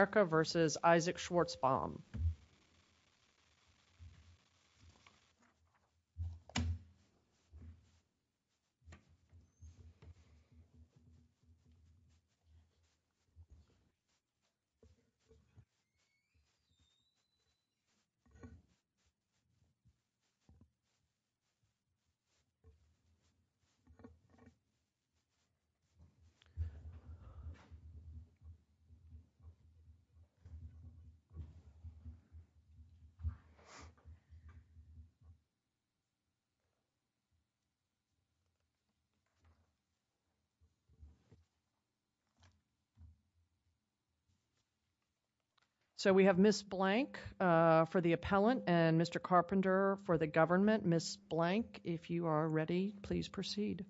Erica v. Isac Schwarzbaum So, we have Ms. Blank for the appellant and Mr. Carpenter for the government. Ms. Blank, if you are ready, please proceed.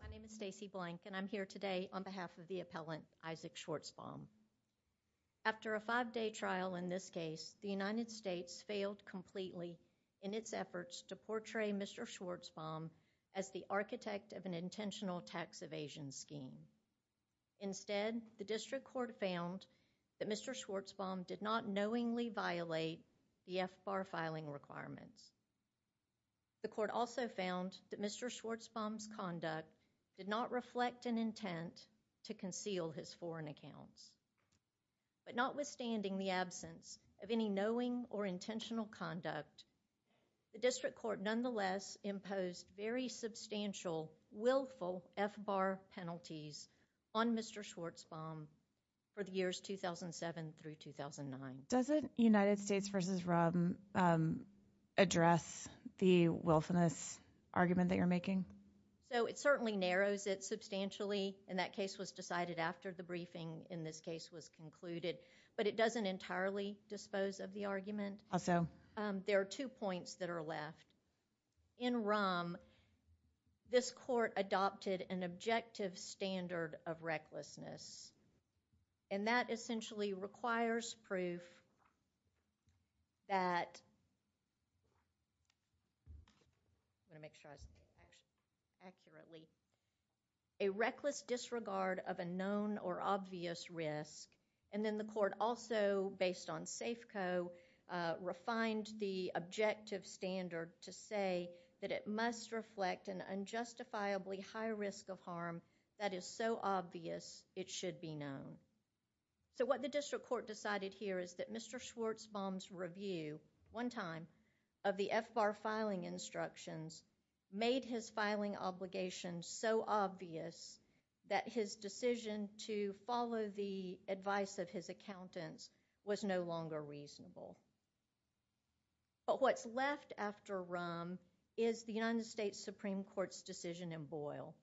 My name is Stacey Blank and I'm here today on behalf of the appellant, Isac Schwarzbaum. After a five-day trial in this case, the United States District Court found that Mr. Schwarzbaum did not knowingly violate the FBAR filing requirements. The court also found that Mr. Schwarzbaum's conduct did not reflect an intent to conceal his foreign accounts. But notwithstanding the absence of any knowing or intentional conduct, the District Court nonetheless imposed very substantial willful FBAR penalties on Mr. Schwarzbaum for the years 2007 through 2009. Doesn't United States v. Ruhm address the willfulness argument that you're making? So, it certainly narrows it substantially and that case was decided after the briefing in this case was concluded. But it doesn't entirely dispose of the argument. Also, there are two points that are left. In Ruhm, this court adopted an objective standard of recklessness and that essentially requires proof that a reckless disregard of a known or obvious risk. And then the court also, based on Safeco, refined the objective standard to say that it must reflect an unjustifiably high risk of harm that is so obvious it should be known. So, what the District Court decided here is that Mr. Schwarzbaum's review, one time, of the FBAR filing instructions made his filing obligation so obvious that his decision to follow the advice of his accountants was no longer reasonable. But what's left after Ruhm is the United States Supreme Court's decision in Boyle.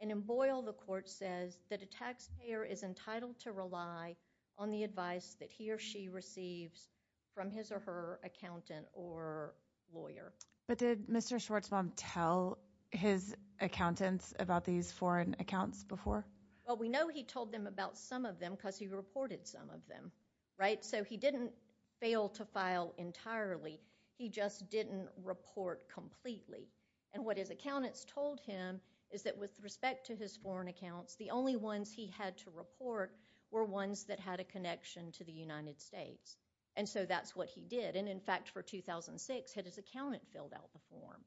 And in Boyle, the court says that a taxpayer is entitled to rely on the advice that he or she receives from his or her accountant or lawyer. But did Mr. Schwarzbaum tell his accountants about these foreign accounts before? Well, we know he told them about some of them because he reported some of them, right? So, he didn't fail to file entirely. He just didn't report completely. And what his accountants told him is that with respect to his foreign accounts, the only ones he had to report were ones that had a connection to the United States. And so, that's what he did. And in fact, for 2006, had his accountant filled out the form.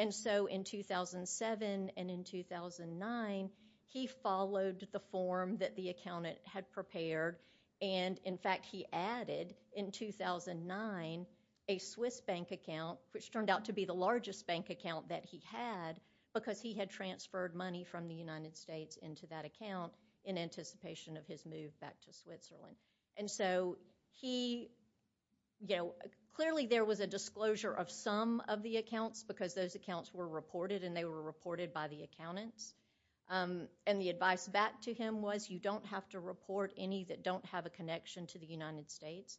And so, in 2007 and in 2009, he filed his account. He followed the form that the accountant had prepared. And in fact, he added in 2009 a Swiss bank account, which turned out to be the largest bank account that he had because he had transferred money from the United States into that account in anticipation of his move back to Switzerland. And so, he, you know, clearly there was a disclosure of some of the accounts because those accounts were reported and they were reported by the accountants. And the advice back to him was you don't have to report any that don't have a connection to the United States.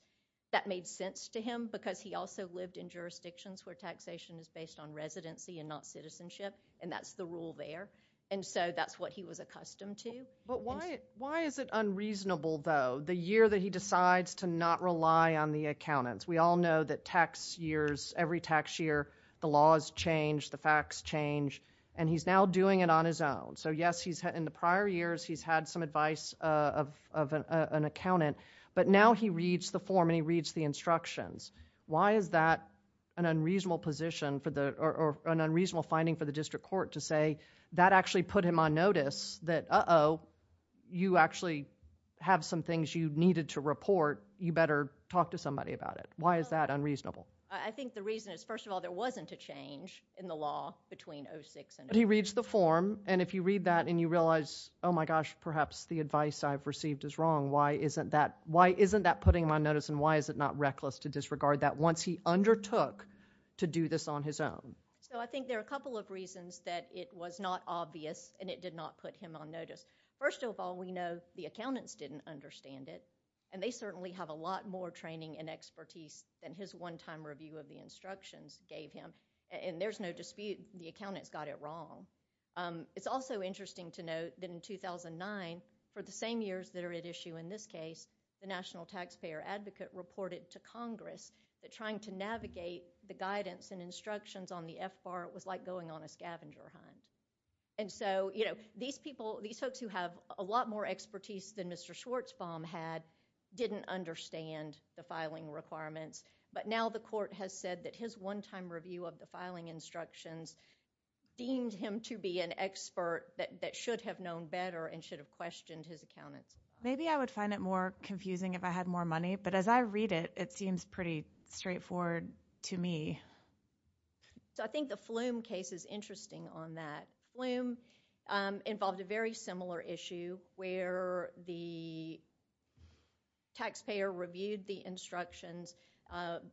That made sense to him because he also lived in jurisdictions where taxation is based on residency and not citizenship. And that's the rule there. And so, that's what he was accustomed to. But why is it unreasonable, though, the year that he decides to not rely on the accountants? We all know that tax years, every tax year, the laws change, the facts change, and he's now doing it on his own. So, yes, in the prior years, he's had some advice of an accountant, but now he reads the form and he reads the instructions. Why is that an unreasonable position or an unreasonable finding for the district court to say that actually put him on notice that, uh-oh, you actually have some things you needed to report, you better talk to somebody about it? Why is that unreasonable? I think the reason is, first of all, there wasn't a change in the law between 06 and 08. But he reads the form, and if you read that and you realize, oh, my gosh, perhaps the advice I've received is wrong, why isn't that putting him on notice and why is it not reckless to disregard that once he undertook to do this on his own? So, I think there are a couple of reasons that it was not obvious and it did not put him on notice. First of all, we know the accountants didn't understand it, and they certainly have a lot more training and expertise than his one-time review of the instructions gave him, and there's no dispute the accountants got it wrong. It's also interesting to note that in 2009, for the same years that are at issue in this case, the National Taxpayer Advocate reported to Congress that trying to navigate the guidance and instructions on the FBAR was like going on a scavenger hunt. And so, you know, these folks who have a lot more expertise than Mr. Schwartzbaum had didn't understand the filing requirements, but now the court has said that his one-time review of the filing instructions deemed him to be an expert that should have known better and should have questioned his accountants. Maybe I would find it more confusing if I had more money, but as I read it, it seems pretty straightforward to me. So, I think the Flume case is interesting on that. Flume involved a very similar issue where the taxpayer reviewed the instructions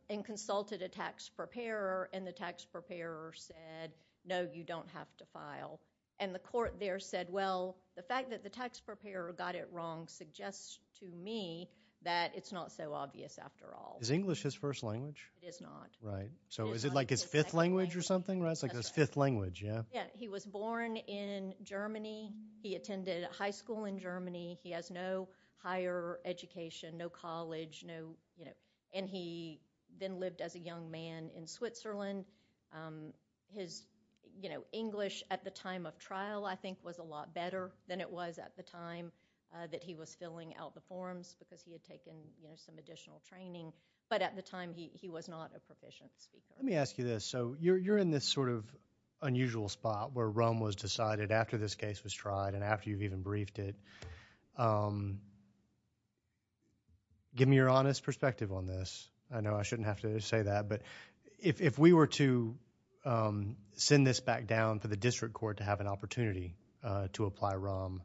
and consulted a tax preparer, and the tax preparer said, no, you don't have to file. And the court there said, well, the fact that the tax preparer got it wrong suggests to me that it's not so obvious after all. Is English his first language? It is not. Right. So, is it like his fifth language or something, right? It's like his fifth language, yeah? Yeah. He was born in Germany. He attended high school in Germany. He has no higher education, no college, no, you know, and he then lived as a young man in Switzerland. His, you know, English at the time of trial, I think, was a lot better than it was at the time that he was filling out the forms because he had taken, you know, some additional training. But at the time, he was not a proficient speaker. Let me ask you this. So, you're in this sort of unusual spot where RUM was decided after this case was tried and after you've even briefed it. Give me your honest perspective on this. I know I shouldn't have to say that, but if we were to send this back down for the district court to have an opportunity to apply RUM,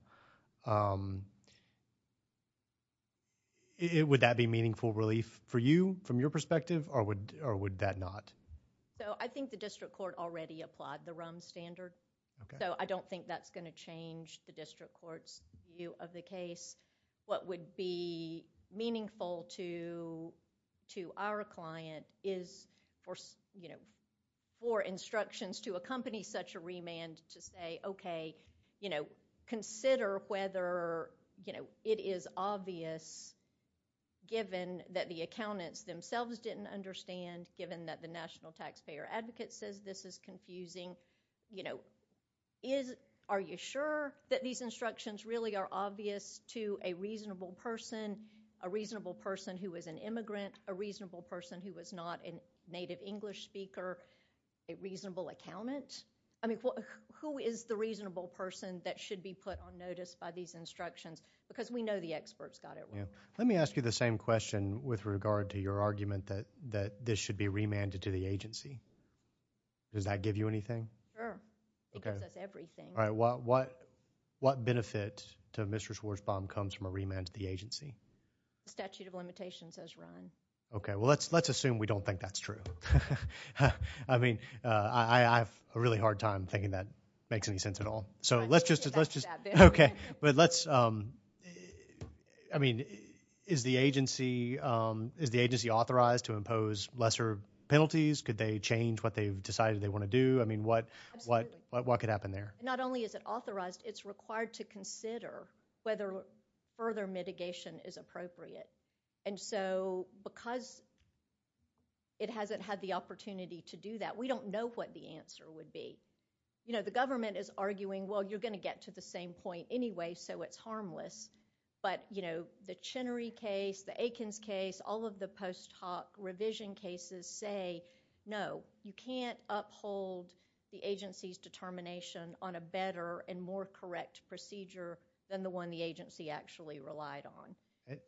would that be meaningful relief for you, from your perspective, or would that not? So, I think the district court already applied the RUM standard. So, I don't think that's going to change the district court's view of the case. What would be meaningful to our client is for, you know, for instructions to accompany such a remand to say, okay, you know, it is obvious, given that the accountants themselves didn't understand, given that the national taxpayer advocate says this is confusing, you know, are you sure that these instructions really are obvious to a reasonable person, a reasonable person who is an immigrant, a reasonable person who is not a native English speaker, a reasonable accountant? I mean, who is the reasonable person that should be put on notice by these instructions? Because we know the experts got it wrong. Let me ask you the same question with regard to your argument that this should be remanded to the agency. Does that give you anything? Sure. It gives us everything. What benefit to Mr. Schwarzbaum comes from a remand to the agency? The statute of limitations says RUM. Okay. Well, let's assume we don't think that's true. I mean, I have a really hard time thinking that makes any sense at all. So let's just, okay, but let's, I mean, is the agency, is the agency authorized to impose lesser penalties? Could they change what they've decided they want to do? I mean, what could happen there? Not only is it authorized, it's required to consider whether further mitigation is appropriate. And so because it hasn't had the opportunity to do that, we don't know what the answer is. The government is arguing, well, you're going to get to the same point anyway, so it's harmless. But the Chenery case, the Aikens case, all of the post hoc revision cases say, no, you can't uphold the agency's determination on a better and more correct procedure than the one the agency actually relied on.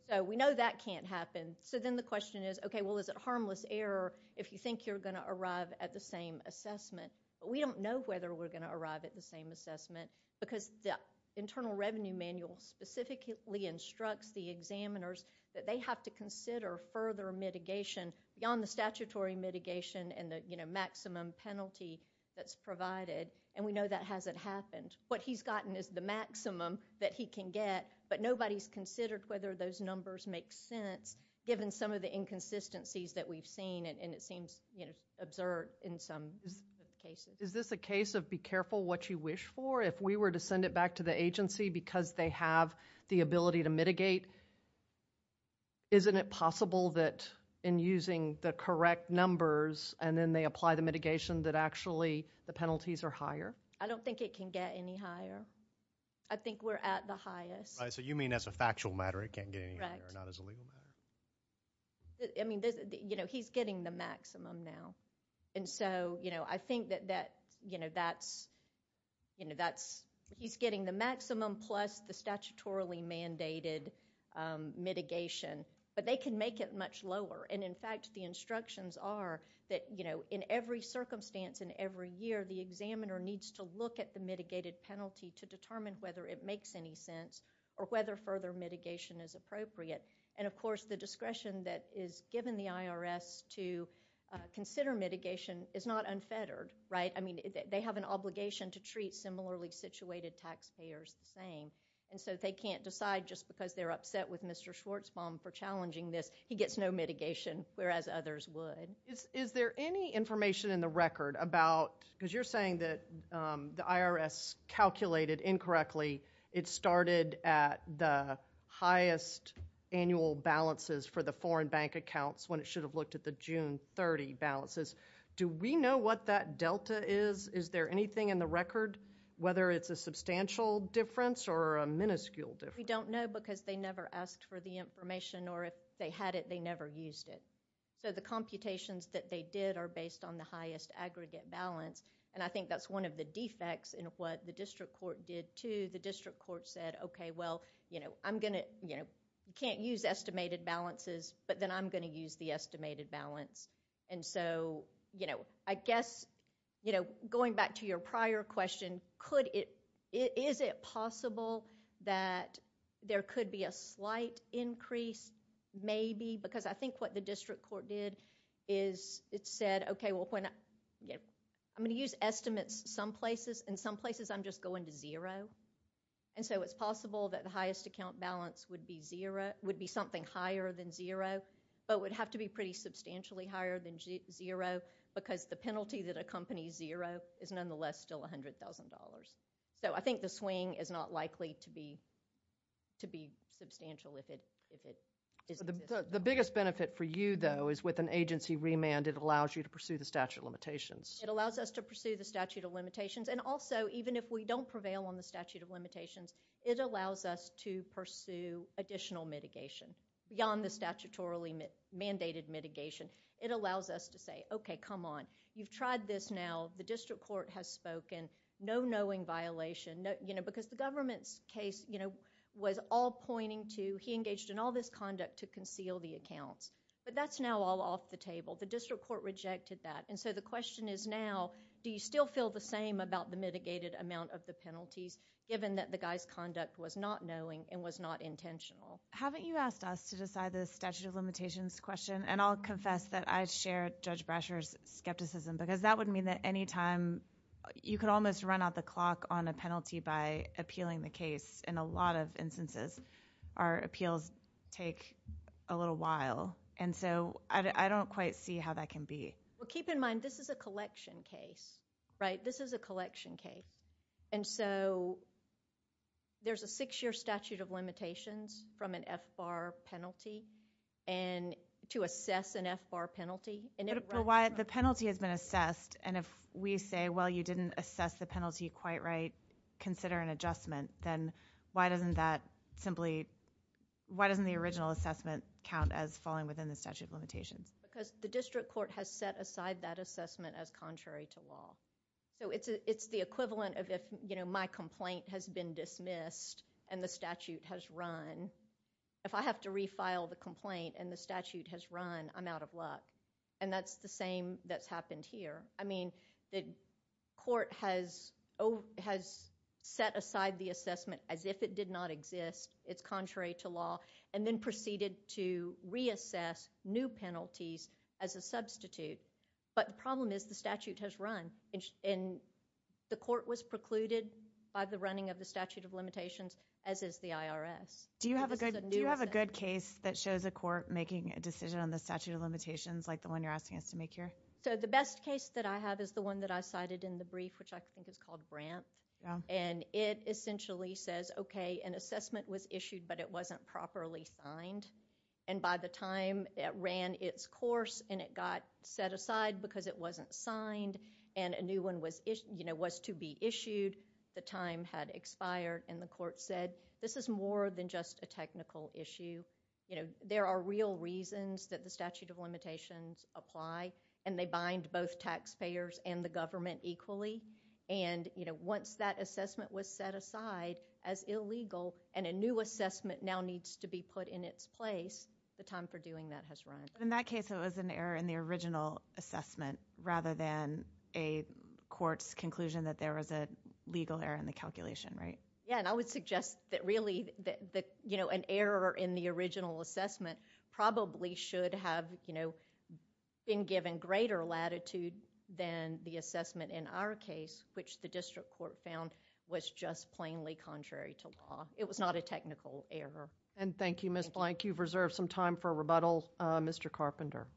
So we know that can't happen. So then the question is, okay, well, is it harmless error if you think you're going to arrive at the same assessment? We don't know whether we're going to arrive at the same assessment because the Internal Revenue Manual specifically instructs the examiners that they have to consider further mitigation beyond the statutory mitigation and the maximum penalty that's provided. And we know that hasn't happened. What he's gotten is the maximum that he can get, but nobody's considered whether those numbers make sense given some of the inconsistencies that we've Is this a case of be careful what you wish for? If we were to send it back to the agency because they have the ability to mitigate, isn't it possible that in using the correct numbers and then they apply the mitigation that actually the penalties are higher? I don't think it can get any higher. I think we're at the highest. Right, so you mean as a factual matter it can't get any higher, not as a legal matter? I mean, you know, he's getting the maximum now. And so, you know, I think that, you know, that's, you know, that's, he's getting the maximum plus the statutorily mandated mitigation, but they can make it much lower. And, in fact, the instructions are that, you know, in every circumstance and every year the examiner needs to look at the mitigated penalty to determine whether it makes any sense or whether further mitigation is appropriate. And, of course, the discretion that is given the IRS to consider mitigation is not unfettered, right? I mean, they have an obligation to treat similarly situated taxpayers the same. And so they can't decide just because they're upset with Mr. Schwartzbaum for challenging this, he gets no mitigation, whereas others would. Is there any information in the record about, because you're saying that the IRS calculated incorrectly, it started at the highest annual balances for the foreign bank accounts when it should have looked at the June 30 balances. Do we know what that delta is? Is there anything in the record whether it's a substantial difference or a minuscule difference? We don't know because they never asked for the information or if they had it they never used it. So the computations that they did are based on the highest aggregate balance, and I think that's one of the defects in what the district court did, too. The district court said, okay, well, you know, I'm going to, you know, you can't use estimated balances, but then I'm going to use the estimated balance. And so, you know, I guess, you know, going back to your prior question, could it, is it possible that there could be a slight increase maybe because I think what the district court did is it said, okay, well, I'm going to use estimates some places, and some places I'm just going to zero. And so it's possible that the highest account balance would be zero, would be something higher than zero, but would have to be pretty substantially higher than zero because the penalty that accompanies zero is nonetheless still $100,000. So I think the swing is not likely to be substantial if it is... The biggest benefit for you, though, is with an agency remand, it allows you to pursue the statute of limitations. It allows us to pursue the statute of limitations, and also even if we don't prevail on the statute of limitations, it allows us to pursue additional mitigation beyond the statutorily mandated mitigation. It allows us to say, okay, come on, you've tried this now, the district court has spoken, no knowing violation, you know, because the government's case, you know, was all pointing to, he engaged in all this conduct to conceal the accounts. But that's now all off the table. The district court rejected that. And so the question is now, do you still feel the same about the mitigated amount of the penalties, given that the guy's conduct was not knowing and was not intentional? Haven't you asked us to decide the statute of limitations question? And I'll confess that I share Judge Brasher's skepticism, because that would mean that any time... you could almost run out the clock on a penalty by appealing the case. In a lot of instances, our appeals take a little while. And so I don't quite see how that can be... Well, keep in mind, this is a collection case, right? This is a collection case. And so there's a six-year statute of limitations from an FBAR penalty, and to assess an FBAR penalty, and if... If the penalty, quite right, consider an adjustment, then why doesn't that simply... why doesn't the original assessment count as falling within the statute of limitations? Because the district court has set aside that assessment as contrary to law. So it's the equivalent of if, you know, my complaint has been dismissed and the statute has run. If I have to refile the complaint and the statute has run, I'm out of luck. And that's the same that's happened here. I mean, the court has set aside the assessment as if it did not exist, it's contrary to law, and then proceeded to reassess new penalties as a substitute. But the problem is the statute has run, and the court was precluded by the running of the statute of limitations, as is the IRS. Do you have a good case that shows a court making a decision on the statute of limitations like the one you're asking us to make here? So the best case that I have is the one that I cited in the brief, which I think is called Brandt. And it essentially says, okay, an assessment was issued, but it wasn't properly signed. And by the time it ran its course and it got set aside because it wasn't signed and a new one was, you know, was to be issued, the time had expired and the court said, this is more than just a technical issue. You know, there are real reasons that the statute of limitations apply, and they bind both taxpayers and the government equally. And, you know, once that assessment was set aside as illegal and a new assessment now needs to be put in its place, the time for doing that has run. In that case, it was an error in the original assessment rather than a court's conclusion that there was a legal error in the calculation, right? Yeah, and I would suggest that really, you know, an error in the original assessment probably should have, you know, been given greater latitude than the assessment in our case, which the district court found was just plainly contrary to law. It was not a technical error. And thank you, Ms. Blank. You've reserved some time for rebuttal. Mr. Carpenter.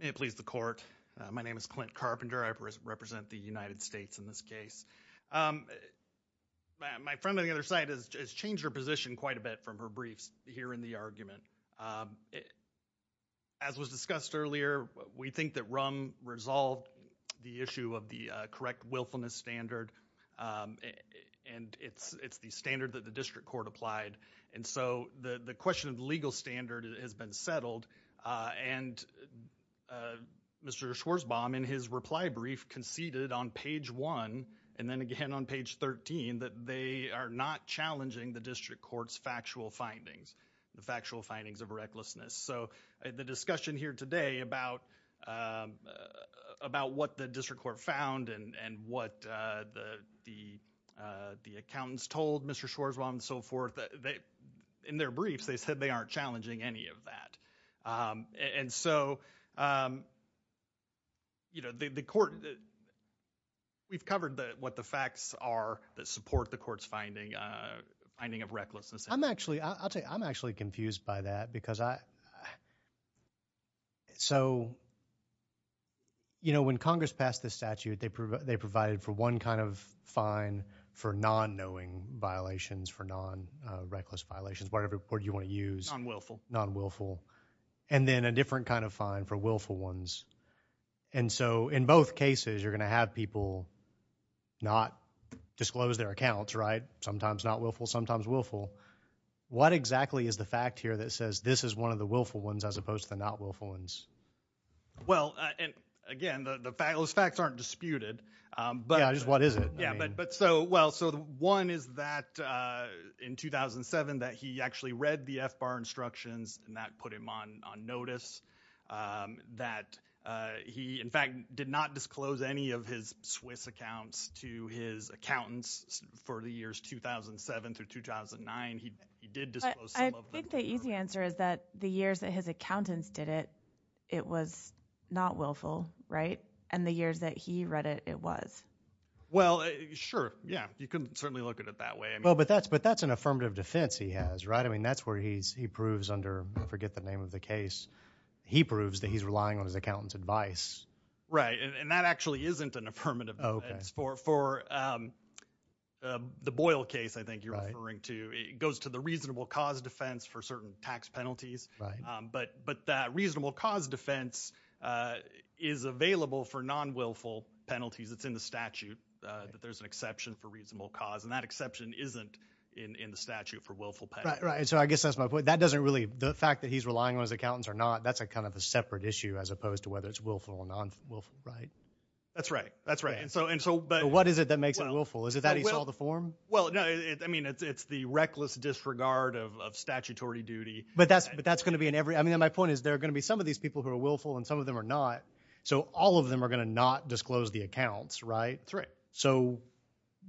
May it please the court. My name is Clint Carpenter. I represent the United States in this case. My friend on the other side has changed her position quite a bit from her briefs here in the argument. As was discussed earlier, we think that RUM resolved the issue of the correct willfulness standard, and it's the standard that the district court applied. And so, the question of the legal standard has been settled, and Mr. Schwarzbaum in his reply brief conceded on page one, and then again on page 13, that they are not challenging the district court's factual findings, the factual findings of recklessness. So the discussion here today about what the district court found and what the accountants told Mr. Schwarzbaum and so forth, in their briefs, they said they aren't challenging any of that. And so, you know, the court, we've covered what the facts are that support the court's finding of recklessness. I'm actually, I'll tell you, I'm actually confused by that because I, so, you know, when Congress passed this statute, they provided for one kind of fine for non-knowing violations, for non-reckless violations, whatever court you want to use, non-willful, and then a different kind of fine for willful ones. And so, in both cases, you're going to have people not disclose their accounts, right? Sometimes not willful, sometimes willful. What exactly is the fact here that says this is one of the willful ones as opposed to the not willful ones? Well, and again, those facts aren't disputed. Yeah, just what is it? Yeah, but so, well, so one is that in 2007 that he actually read the FBAR instructions and that put him on notice that he, in fact, did not disclose any of his Swiss accounts to his accountants for the years 2007 through 2009. He did disclose some of them. I think the easy answer is that the years that his accountants did it, it was not willful, right? And the years that he read it, it was. Well, sure, yeah. You can certainly look at it that way. Well, but that's an affirmative defense he has, right? I mean, that's where he proves under, I forget the name of the case, he proves that he's relying on his accountant's advice. Right, and that actually isn't an affirmative defense. For the Boyle case, I think you're right. Right. But that reasonable cause defense is available for non-willful penalties. It's in the statute that there's an exception for reasonable cause, and that exception isn't in the statute for willful penalties. Right, right, and so I guess that's my point. That doesn't really, the fact that he's relying on his accountants or not, that's a kind of a separate issue as opposed to whether it's willful or non-willful, right? That's right, that's right, and so, and so, but. What is it that makes it willful? Is it that he saw the form? Well, no, I mean, it's the reckless disregard of statutory duty. But that's going to be in every, I mean, my point is there are going to be some of these people who are willful and some of them are not, so all of them are going to not disclose the accounts, right? That's right. So,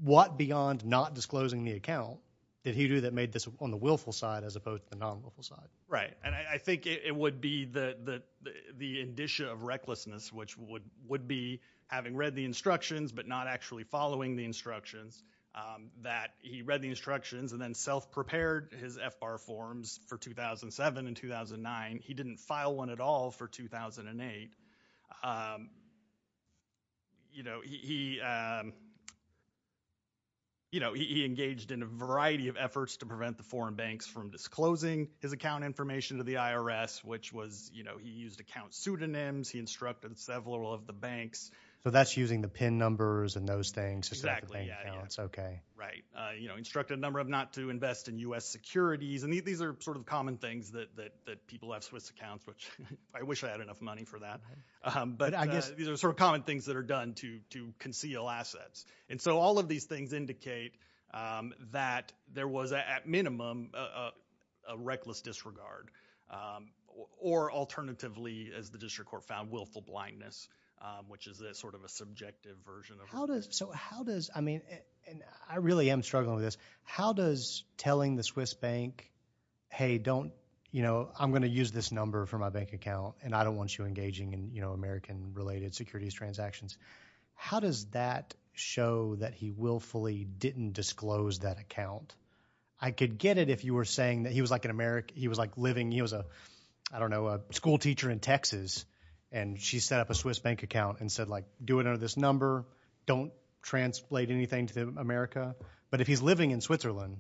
what beyond not disclosing the account did he do that made this on the willful side as opposed to the non-willful side? Right, and I think it would be the indicia of recklessness, which would be having read the instructions but not actually following the instructions, that he read the instructions and then self-prepared his FBAR forms for 2007 and 2009. He didn't file one at all for 2008. You know, he, you know, he engaged in a variety of efforts to prevent the foreign banks from disclosing his account information to the IRS, which was, you know, he used account pseudonyms. He instructed several of the banks. So that's using the PIN numbers and those things. Exactly. Yeah, yeah. Okay. Right. You know, instructed a number of not to invest in U.S. securities. And these are sort of common things that people have Swiss accounts, which I wish I had enough money for that. But I guess these are sort of common things that are done to conceal assets. And so, all of these things indicate that there was at minimum a reckless disregard or, alternatively, as the district court found, willful blindness, which is a sort of a subjective version of it. How does, so how does, I mean, and I really am struggling with this, how does telling the Swiss bank, hey, don't, you know, I'm going to use this number for my bank account and I don't want you engaging in, you know, American-related securities transactions, how does that show that he willfully didn't disclose that account? I could get it if you were saying that he was like an American, he was like living, he was a, I don't know, a school teacher in Texas and she set up a Swiss bank account and said, like, do it under this number, don't translate anything to America. But if he's living in Switzerland,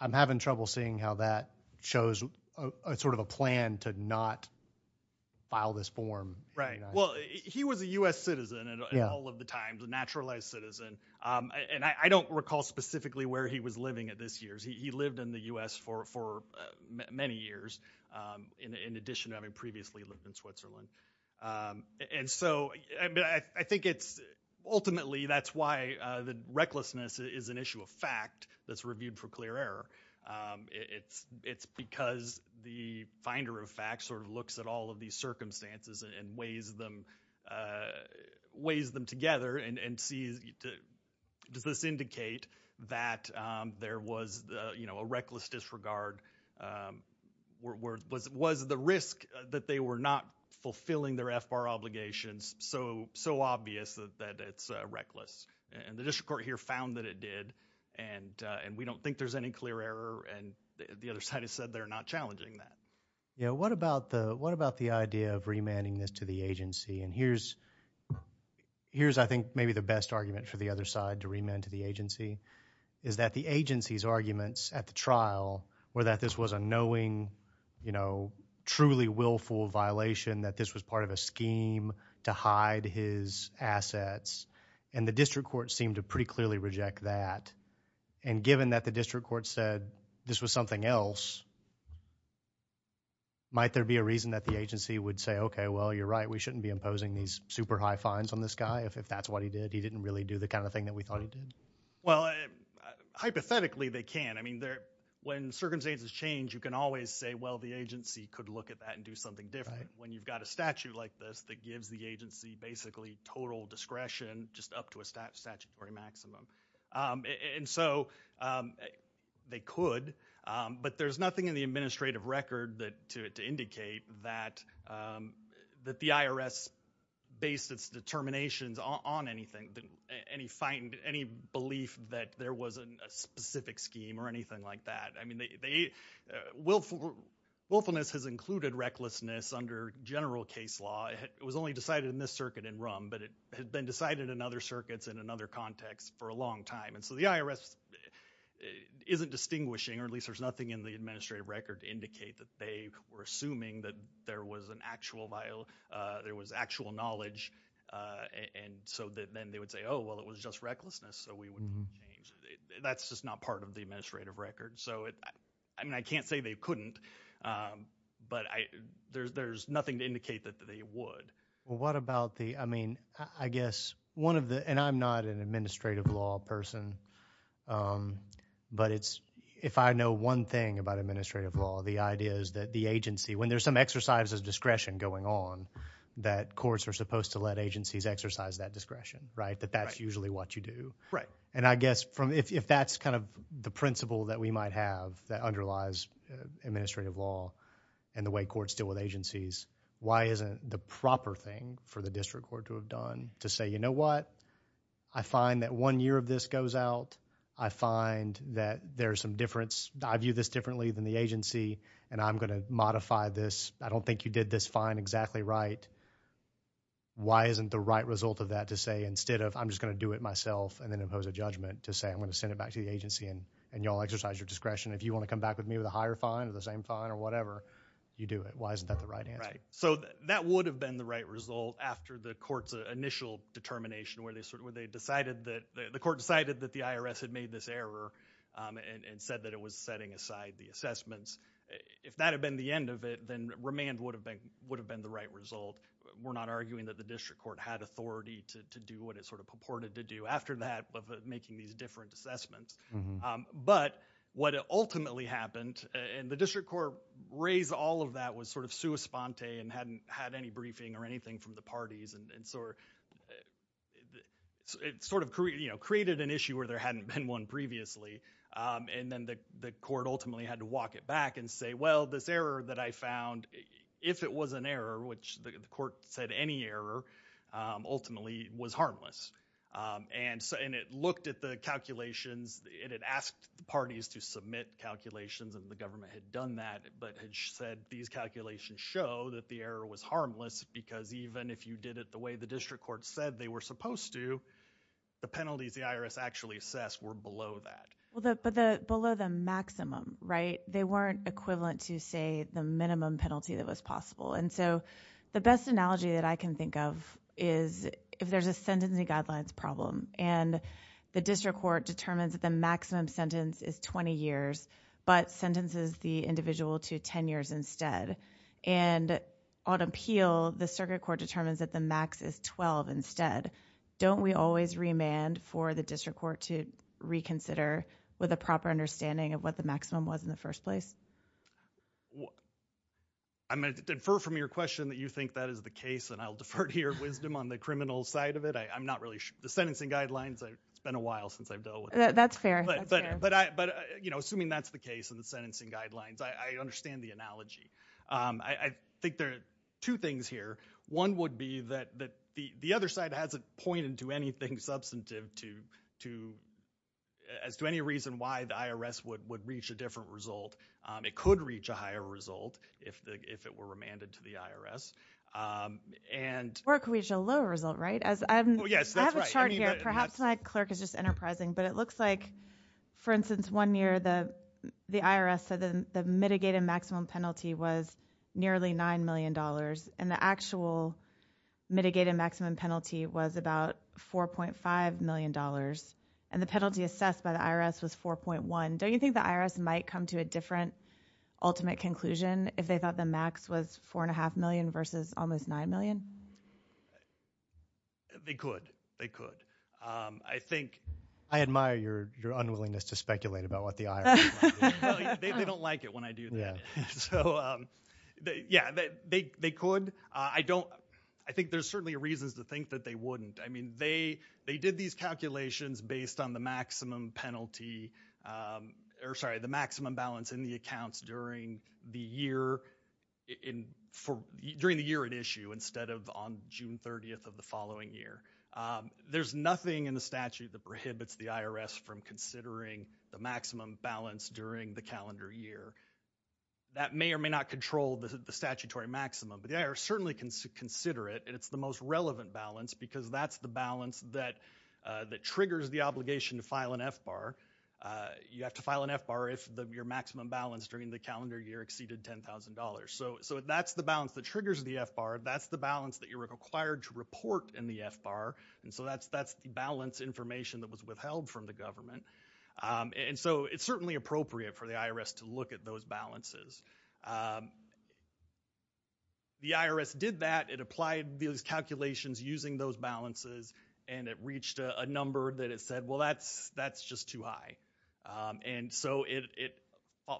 I'm having trouble seeing how that shows a sort of a plan to not file this form. Right. Well, he was a U.S. citizen at all of the times, a naturalized citizen. And I don't recall specifically where he was living at this year's. He lived in the U.S. for many years in addition to having previously lived in Switzerland. And so, I mean, I think it's ultimately that's why the recklessness is an issue of fact that's reviewed for clear error. It's because the finder of facts sort of looks at all of these circumstances and weighs them, puts them together and sees, does this indicate that there was, you know, a reckless disregard? Was the risk that they were not fulfilling their FBAR obligations so obvious that it's reckless? And the district court here found that it did. And we don't think there's any clear error. And the other side has said they're not challenging that. Yeah. What about the idea of remanding this to the agency? And here's, I think, maybe the best argument for the other side to remand to the agency is that the agency's arguments at the trial were that this was a knowing, you know, truly willful violation, that this was part of a scheme to hide his assets. And the district court seemed to pretty clearly reject that. And given that the district court said this was something else, might there be a reason that the agency would say, okay, well, you're right, we shouldn't be imposing these super high fines on this guy if that's what he did? He didn't really do the kind of thing that we thought he did? Well, hypothetically, they can. I mean, when circumstances change, you can always say, well, the agency could look at that and do something different when you've got a statute like this that gives the agency basically total discretion just up to a statutory maximum. And so they could. But there's nothing in the administrative record to indicate that the IRS based its determinations on anything, any belief that there was a specific scheme or anything like that. I mean, willfulness has included recklessness under general case law. It was only decided in this circuit in RUM, but it had been decided in other circuits in another context for a long time. And so the IRS isn't distinguishing, or at least there's nothing in the administrative record to indicate that they were assuming that there was an actual, there was actual knowledge and so then they would say, oh, well, it was just recklessness, so we wouldn't change it. That's just not part of the administrative record. So I mean, I can't say they couldn't, but there's nothing to indicate that they would. What about the, I mean, I guess one of the, and I'm not an administrative law person, but it's, if I know one thing about administrative law, the idea is that the agency, when there's some exercises of discretion going on, that courts are supposed to let agencies exercise that discretion, right? That that's usually what you do. And I guess from, if that's kind of the principle that we might have that underlies administrative law and the way courts deal with agencies, why isn't the proper thing for the district court to have done to say, you know what, I find that one year of this goes out, I find that there's some difference, I view this differently than the agency, and I'm going to modify this, I don't think you did this fine exactly right, why isn't the right result of that to say instead of I'm just going to do it myself and then impose a judgment to say I'm going to send it back to the agency and y'all exercise your discretion, if you want to come back with me with a higher fine or the same fine or whatever, you do it. Why isn't that the right answer? Right. So that would have been the right result after the court's initial determination where they decided that, the court decided that the IRS had made this error and said that it was setting aside the assessments. If that had been the end of it, then remand would have been the right result. We're not arguing that the district court had authority to do what it sort of purported to do after that of making these different assessments. But what ultimately happened, and the district court raised all of that was sort of sua sponte and hadn't had any briefing or anything from the parties, and so it sort of created an issue where there hadn't been one previously, and then the court ultimately had to walk it back and say, well, this error that I found, if it was an error, which the court said any error, ultimately was harmless. And so, and it looked at the calculations, it had asked the parties to submit calculations and the government had done that, but had said these calculations show that the error was harmless because even if you did it the way the district court said they were supposed to, the penalties the IRS actually assessed were below that. Well, but below the maximum, right? They weren't equivalent to, say, the minimum penalty that was possible. And so, the best analogy that I can think of is if there's a sentencing guidelines problem and the district court determines that the maximum sentence is 20 years, but sentences the individual to 10 years instead, and on appeal, the circuit court determines that the max is 12 instead, don't we always remand for the district court to reconsider with a proper understanding of what the maximum was in the first place? I'm going to defer from your question that you think that is the case and I'll defer to your wisdom on the criminal side of it. I'm not really sure. The sentencing guidelines, it's been a while since I've dealt with it. That's fair. But, you know, assuming that's the case in the sentencing guidelines, I understand the analogy. I think there are two things here. One would be that the other side hasn't pointed to anything substantive to, as to any reason why the IRS would reach a different result. It could reach a higher result if it were remanded to the IRS. Or it could reach a lower result, right? Yes, that's right. I have a chart here. Perhaps my clerk is just enterprising, but it looks like, for instance, one year the IRS said the mitigated maximum penalty was nearly $9 million and the actual mitigated maximum penalty was about $4.5 million and the penalty assessed by the IRS was 4.1. Don't you think the IRS might come to a different ultimate conclusion if they thought the max was $4.5 million versus almost $9 million? They could. They could. I think I admire your unwillingness to speculate about what the IRS might do. They don't like it when I do that. So, yeah, they could. I don't, I think there's certainly reasons to think that they wouldn't. I mean, they did these calculations based on the maximum penalty, or sorry, the maximum balance in the accounts during the year, during the year at issue instead of on June 30th of the following year. There's nothing in the statute that prohibits the IRS from considering the maximum balance during the calendar year. That may or may not control the statutory maximum, but the IRS certainly can consider it and it's the most relevant balance because that's the balance that triggers the obligation to file an FBAR. You have to file an FBAR if your maximum balance during the calendar year exceeded $10,000. So that's the balance that triggers the FBAR. That's the balance that you're required to report in the FBAR, and so that's the balance information that was withheld from the government. And so it's certainly appropriate for the IRS to look at those balances. The IRS did that. It applied these calculations using those balances and it reached a number that it said, well, that's just too high. And so it,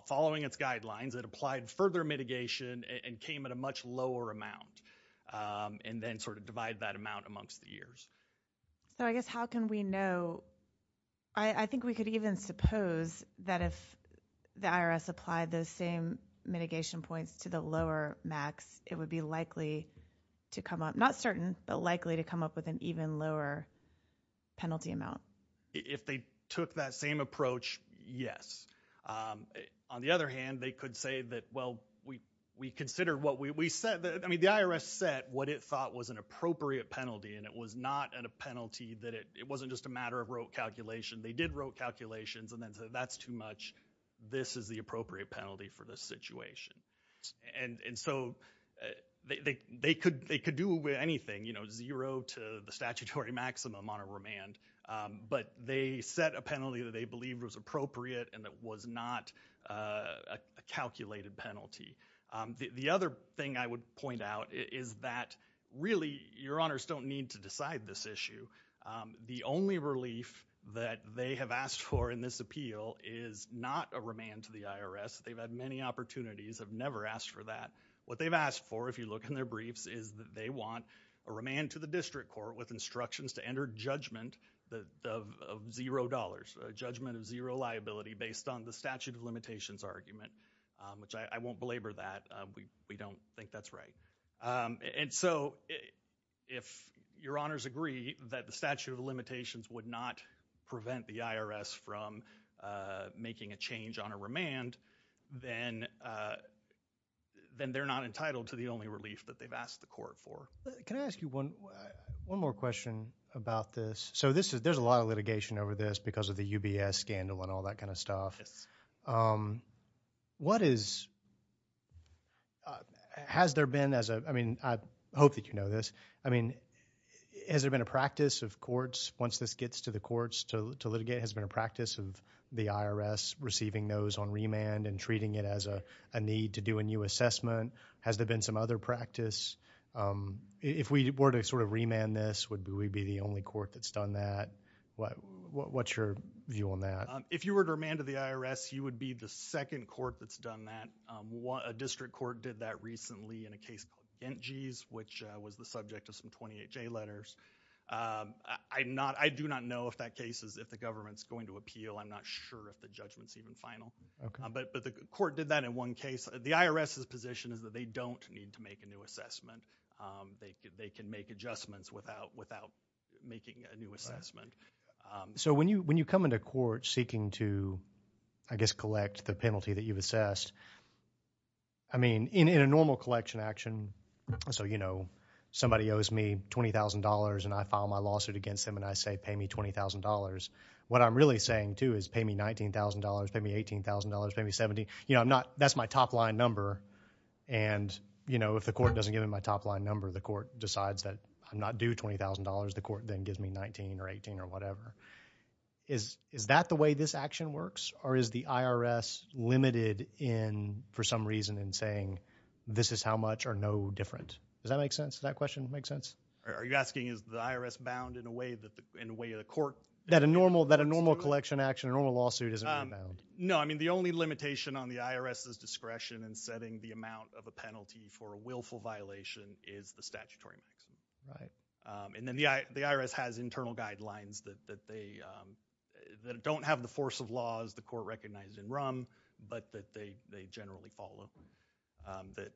following its guidelines, it applied further mitigation and came at a much lower So I guess how can we know, I think we could even suppose that if the IRS applied those same mitigation points to the lower max, it would be likely to come up, not certain, but likely to come up with an even lower penalty amount. If they took that same approach, yes. On the other hand, they could say that, well, we consider what we said, I mean, the IRS set what it thought was an appropriate penalty and it was not a penalty that it, it wasn't just a matter of rote calculation. They did rote calculations and then said, that's too much. This is the appropriate penalty for this situation. And so they could do with anything, you know, zero to the statutory maximum on a remand, but they set a penalty that they believed was appropriate and that was not a calculated penalty. The other thing I would point out is that really your honors don't need to decide this issue. The only relief that they have asked for in this appeal is not a remand to the IRS. They've had many opportunities, have never asked for that. What they've asked for, if you look in their briefs, is that they want a remand to the district court with instructions to enter judgment of zero dollars, a judgment of zero dollars argument, which I won't belabor that we, we don't think that's right. And so if your honors agree that the statute of limitations would not prevent the IRS from making a change on a remand, then then they're not entitled to the only relief that they've asked the court for. Can I ask you one, one more question about this? So this is, there's a lot of litigation over this because of the UBS scandal and all that kind of stuff. What is, has there been as a, I mean, I hope that you know this, I mean, has there been a practice of courts, once this gets to the courts to litigate, has there been a practice of the IRS receiving those on remand and treating it as a need to do a new assessment? Has there been some other practice? If we were to sort of remand this, would we be the only court that's done that? What's your view on that? If you were to remand to the IRS, you would be the second court that's done that. A district court did that recently in a case called Gentjies, which was the subject of some 28 J letters. I'm not, I do not know if that case is, if the government's going to appeal. I'm not sure if the judgment's even final. But the court did that in one case. The IRS's position is that they don't need to make a new assessment. They can make adjustments without, without making a new assessment. So when you, when you come into court seeking to, I guess, collect the penalty that you've assessed, I mean, in a normal collection action, so, you know, somebody owes me $20,000 and I file my lawsuit against them and I say, pay me $20,000. What I'm really saying, too, is pay me $19,000, pay me $18,000, pay me $17,000. You know, I'm not, that's my top line number. And you know, if the court doesn't give me my top line number, the court decides that I'm not due $20,000. The court then gives me $19,000 or $18,000 or whatever. Is that the way this action works, or is the IRS limited in, for some reason, in saying this is how much or no different? Does that make sense? Does that question make sense? All right. Are you asking is the IRS bound in a way that the, in a way that a court? That a normal, that a normal collection action, a normal lawsuit isn't bound? No. I mean, the only limitation on the IRS's discretion in setting the amount of a penalty for a willful violation is the statutory maximum. Right. And then the IRS has internal guidelines that they, that don't have the force of law, as the court recognized in RUM, but that they generally follow, that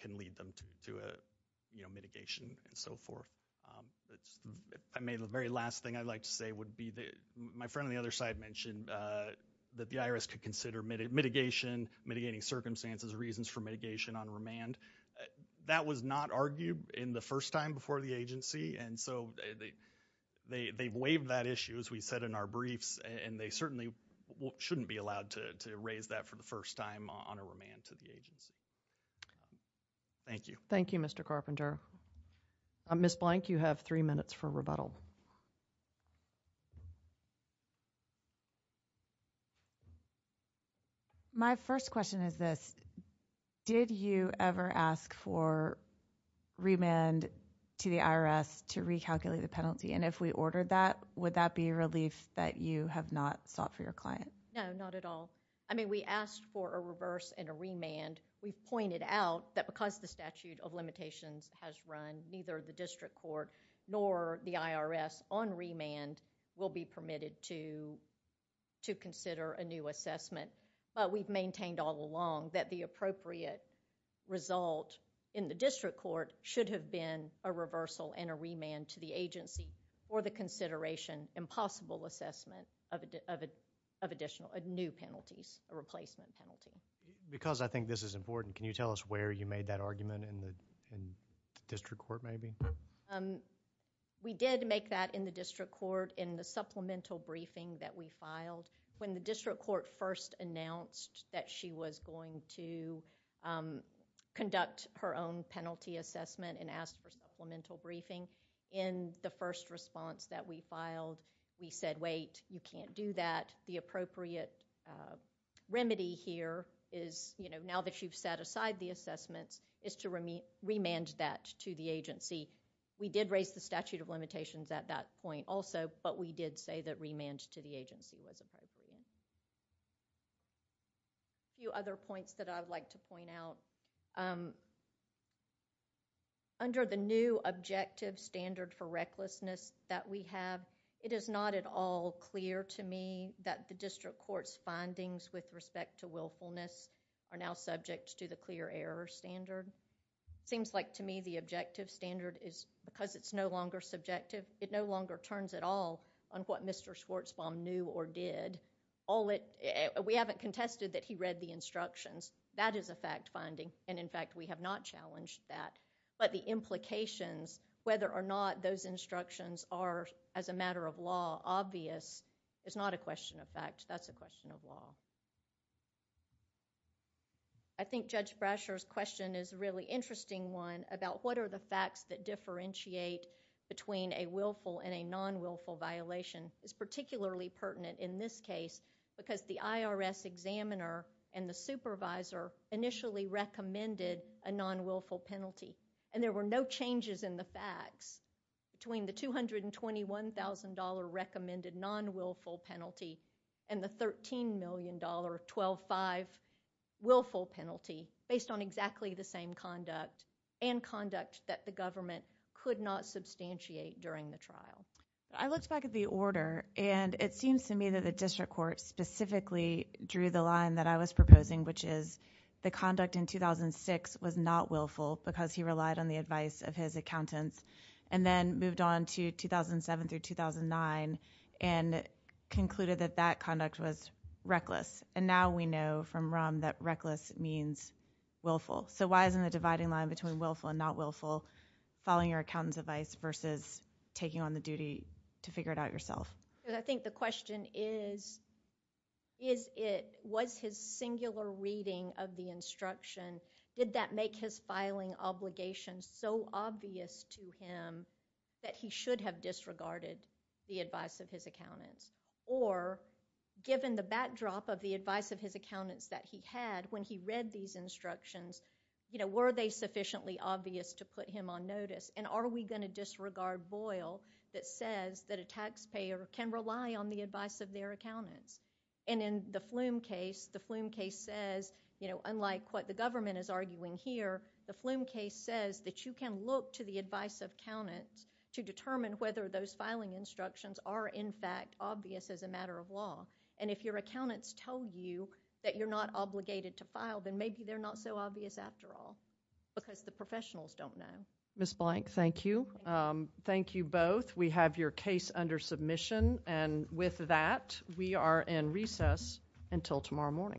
can lead them to a, you know, mitigation and so forth. I may, the very last thing I'd like to say would be that, my friend on the other side mentioned that the IRS could consider mitigation, mitigating circumstances, reasons for mitigation on remand. That was not argued in the first time before the agency, and so they, they, they've waived that issue, as we said in our briefs, and they certainly shouldn't be allowed to, to raise that for the first time on a remand to the agency. Thank you. Thank you, Mr. Carpenter. Ms. Blank, you have three minutes for rebuttal. Thank you. My first question is this, did you ever ask for remand to the IRS to recalculate the penalty? And if we ordered that, would that be a relief that you have not sought for your client? No, not at all. I mean, we asked for a reverse and a remand. We pointed out that because the statute of limitations has run, neither the district court nor the IRS on remand will be permitted to, to consider a new assessment, but we've maintained all along that the appropriate result in the district court should have been a reversal and a remand to the agency for the consideration and possible assessment of a, of a, of additional, new penalties, a replacement penalty. Because I think this is important, can you tell us where you made that argument in the, in the district court maybe? We did make that in the district court in the supplemental briefing that we filed. When the district court first announced that she was going to conduct her own penalty assessment and asked for supplemental briefing, in the first response that we filed, we said, wait, you can't do that. The appropriate remedy here is, you know, now that you've set aside the assessments is to remand that to the agency. We did raise the statute of limitations at that point also, but we did say that remand to the agency was appropriate. A few other points that I would like to point out. Under the new objective standard for recklessness that we have, it is not at all clear to me that the district court's findings with respect to willfulness are now subject to the clear error standard. It seems like to me the objective standard is, because it's no longer subjective, it no longer turns at all on what Mr. Schwartzbaum knew or did. All it, we haven't contested that he read the instructions. That is a fact finding, and in fact we have not challenged that. But the implications, whether or not those instructions are, as a matter of law, obvious, I think Judge Brasher's question is a really interesting one about what are the facts that differentiate between a willful and a non-willful violation is particularly pertinent in this case, because the IRS examiner and the supervisor initially recommended a non-willful penalty, and there were no changes in the facts between the $221,000 recommended non-willful penalty and the $13 million, 12-5 willful penalty, based on exactly the same conduct and conduct that the government could not substantiate during the trial. I looked back at the order, and it seems to me that the district court specifically drew the line that I was proposing, which is the conduct in 2006 was not willful because he relied on the advice of his accountants, and then moved on to 2007 through 2009 and concluded that that conduct was reckless. And now we know from RUM that reckless means willful. So why isn't the dividing line between willful and not willful, following your accountant's advice versus taking on the duty to figure it out yourself? I think the question is, was his singular reading of the instruction, did that make his filing obligation so obvious to him that he should have disregarded the advice of his accountants? Or given the backdrop of the advice of his accountants that he had when he read these instructions, were they sufficiently obvious to put him on notice, and are we going to disregard Boyle that says that a taxpayer can rely on the advice of their accountants? And in the Flume case, the Flume case says, unlike what the government is arguing here, the Flume case says that you can look to the advice of accountants to determine whether those filing instructions are in fact obvious as a matter of law. And if your accountants tell you that you're not obligated to file, then maybe they're not so obvious after all, because the professionals don't know. Ms. Blank, thank you. Thank you both. We have your case under submission, and with that, we are in recess until tomorrow morning.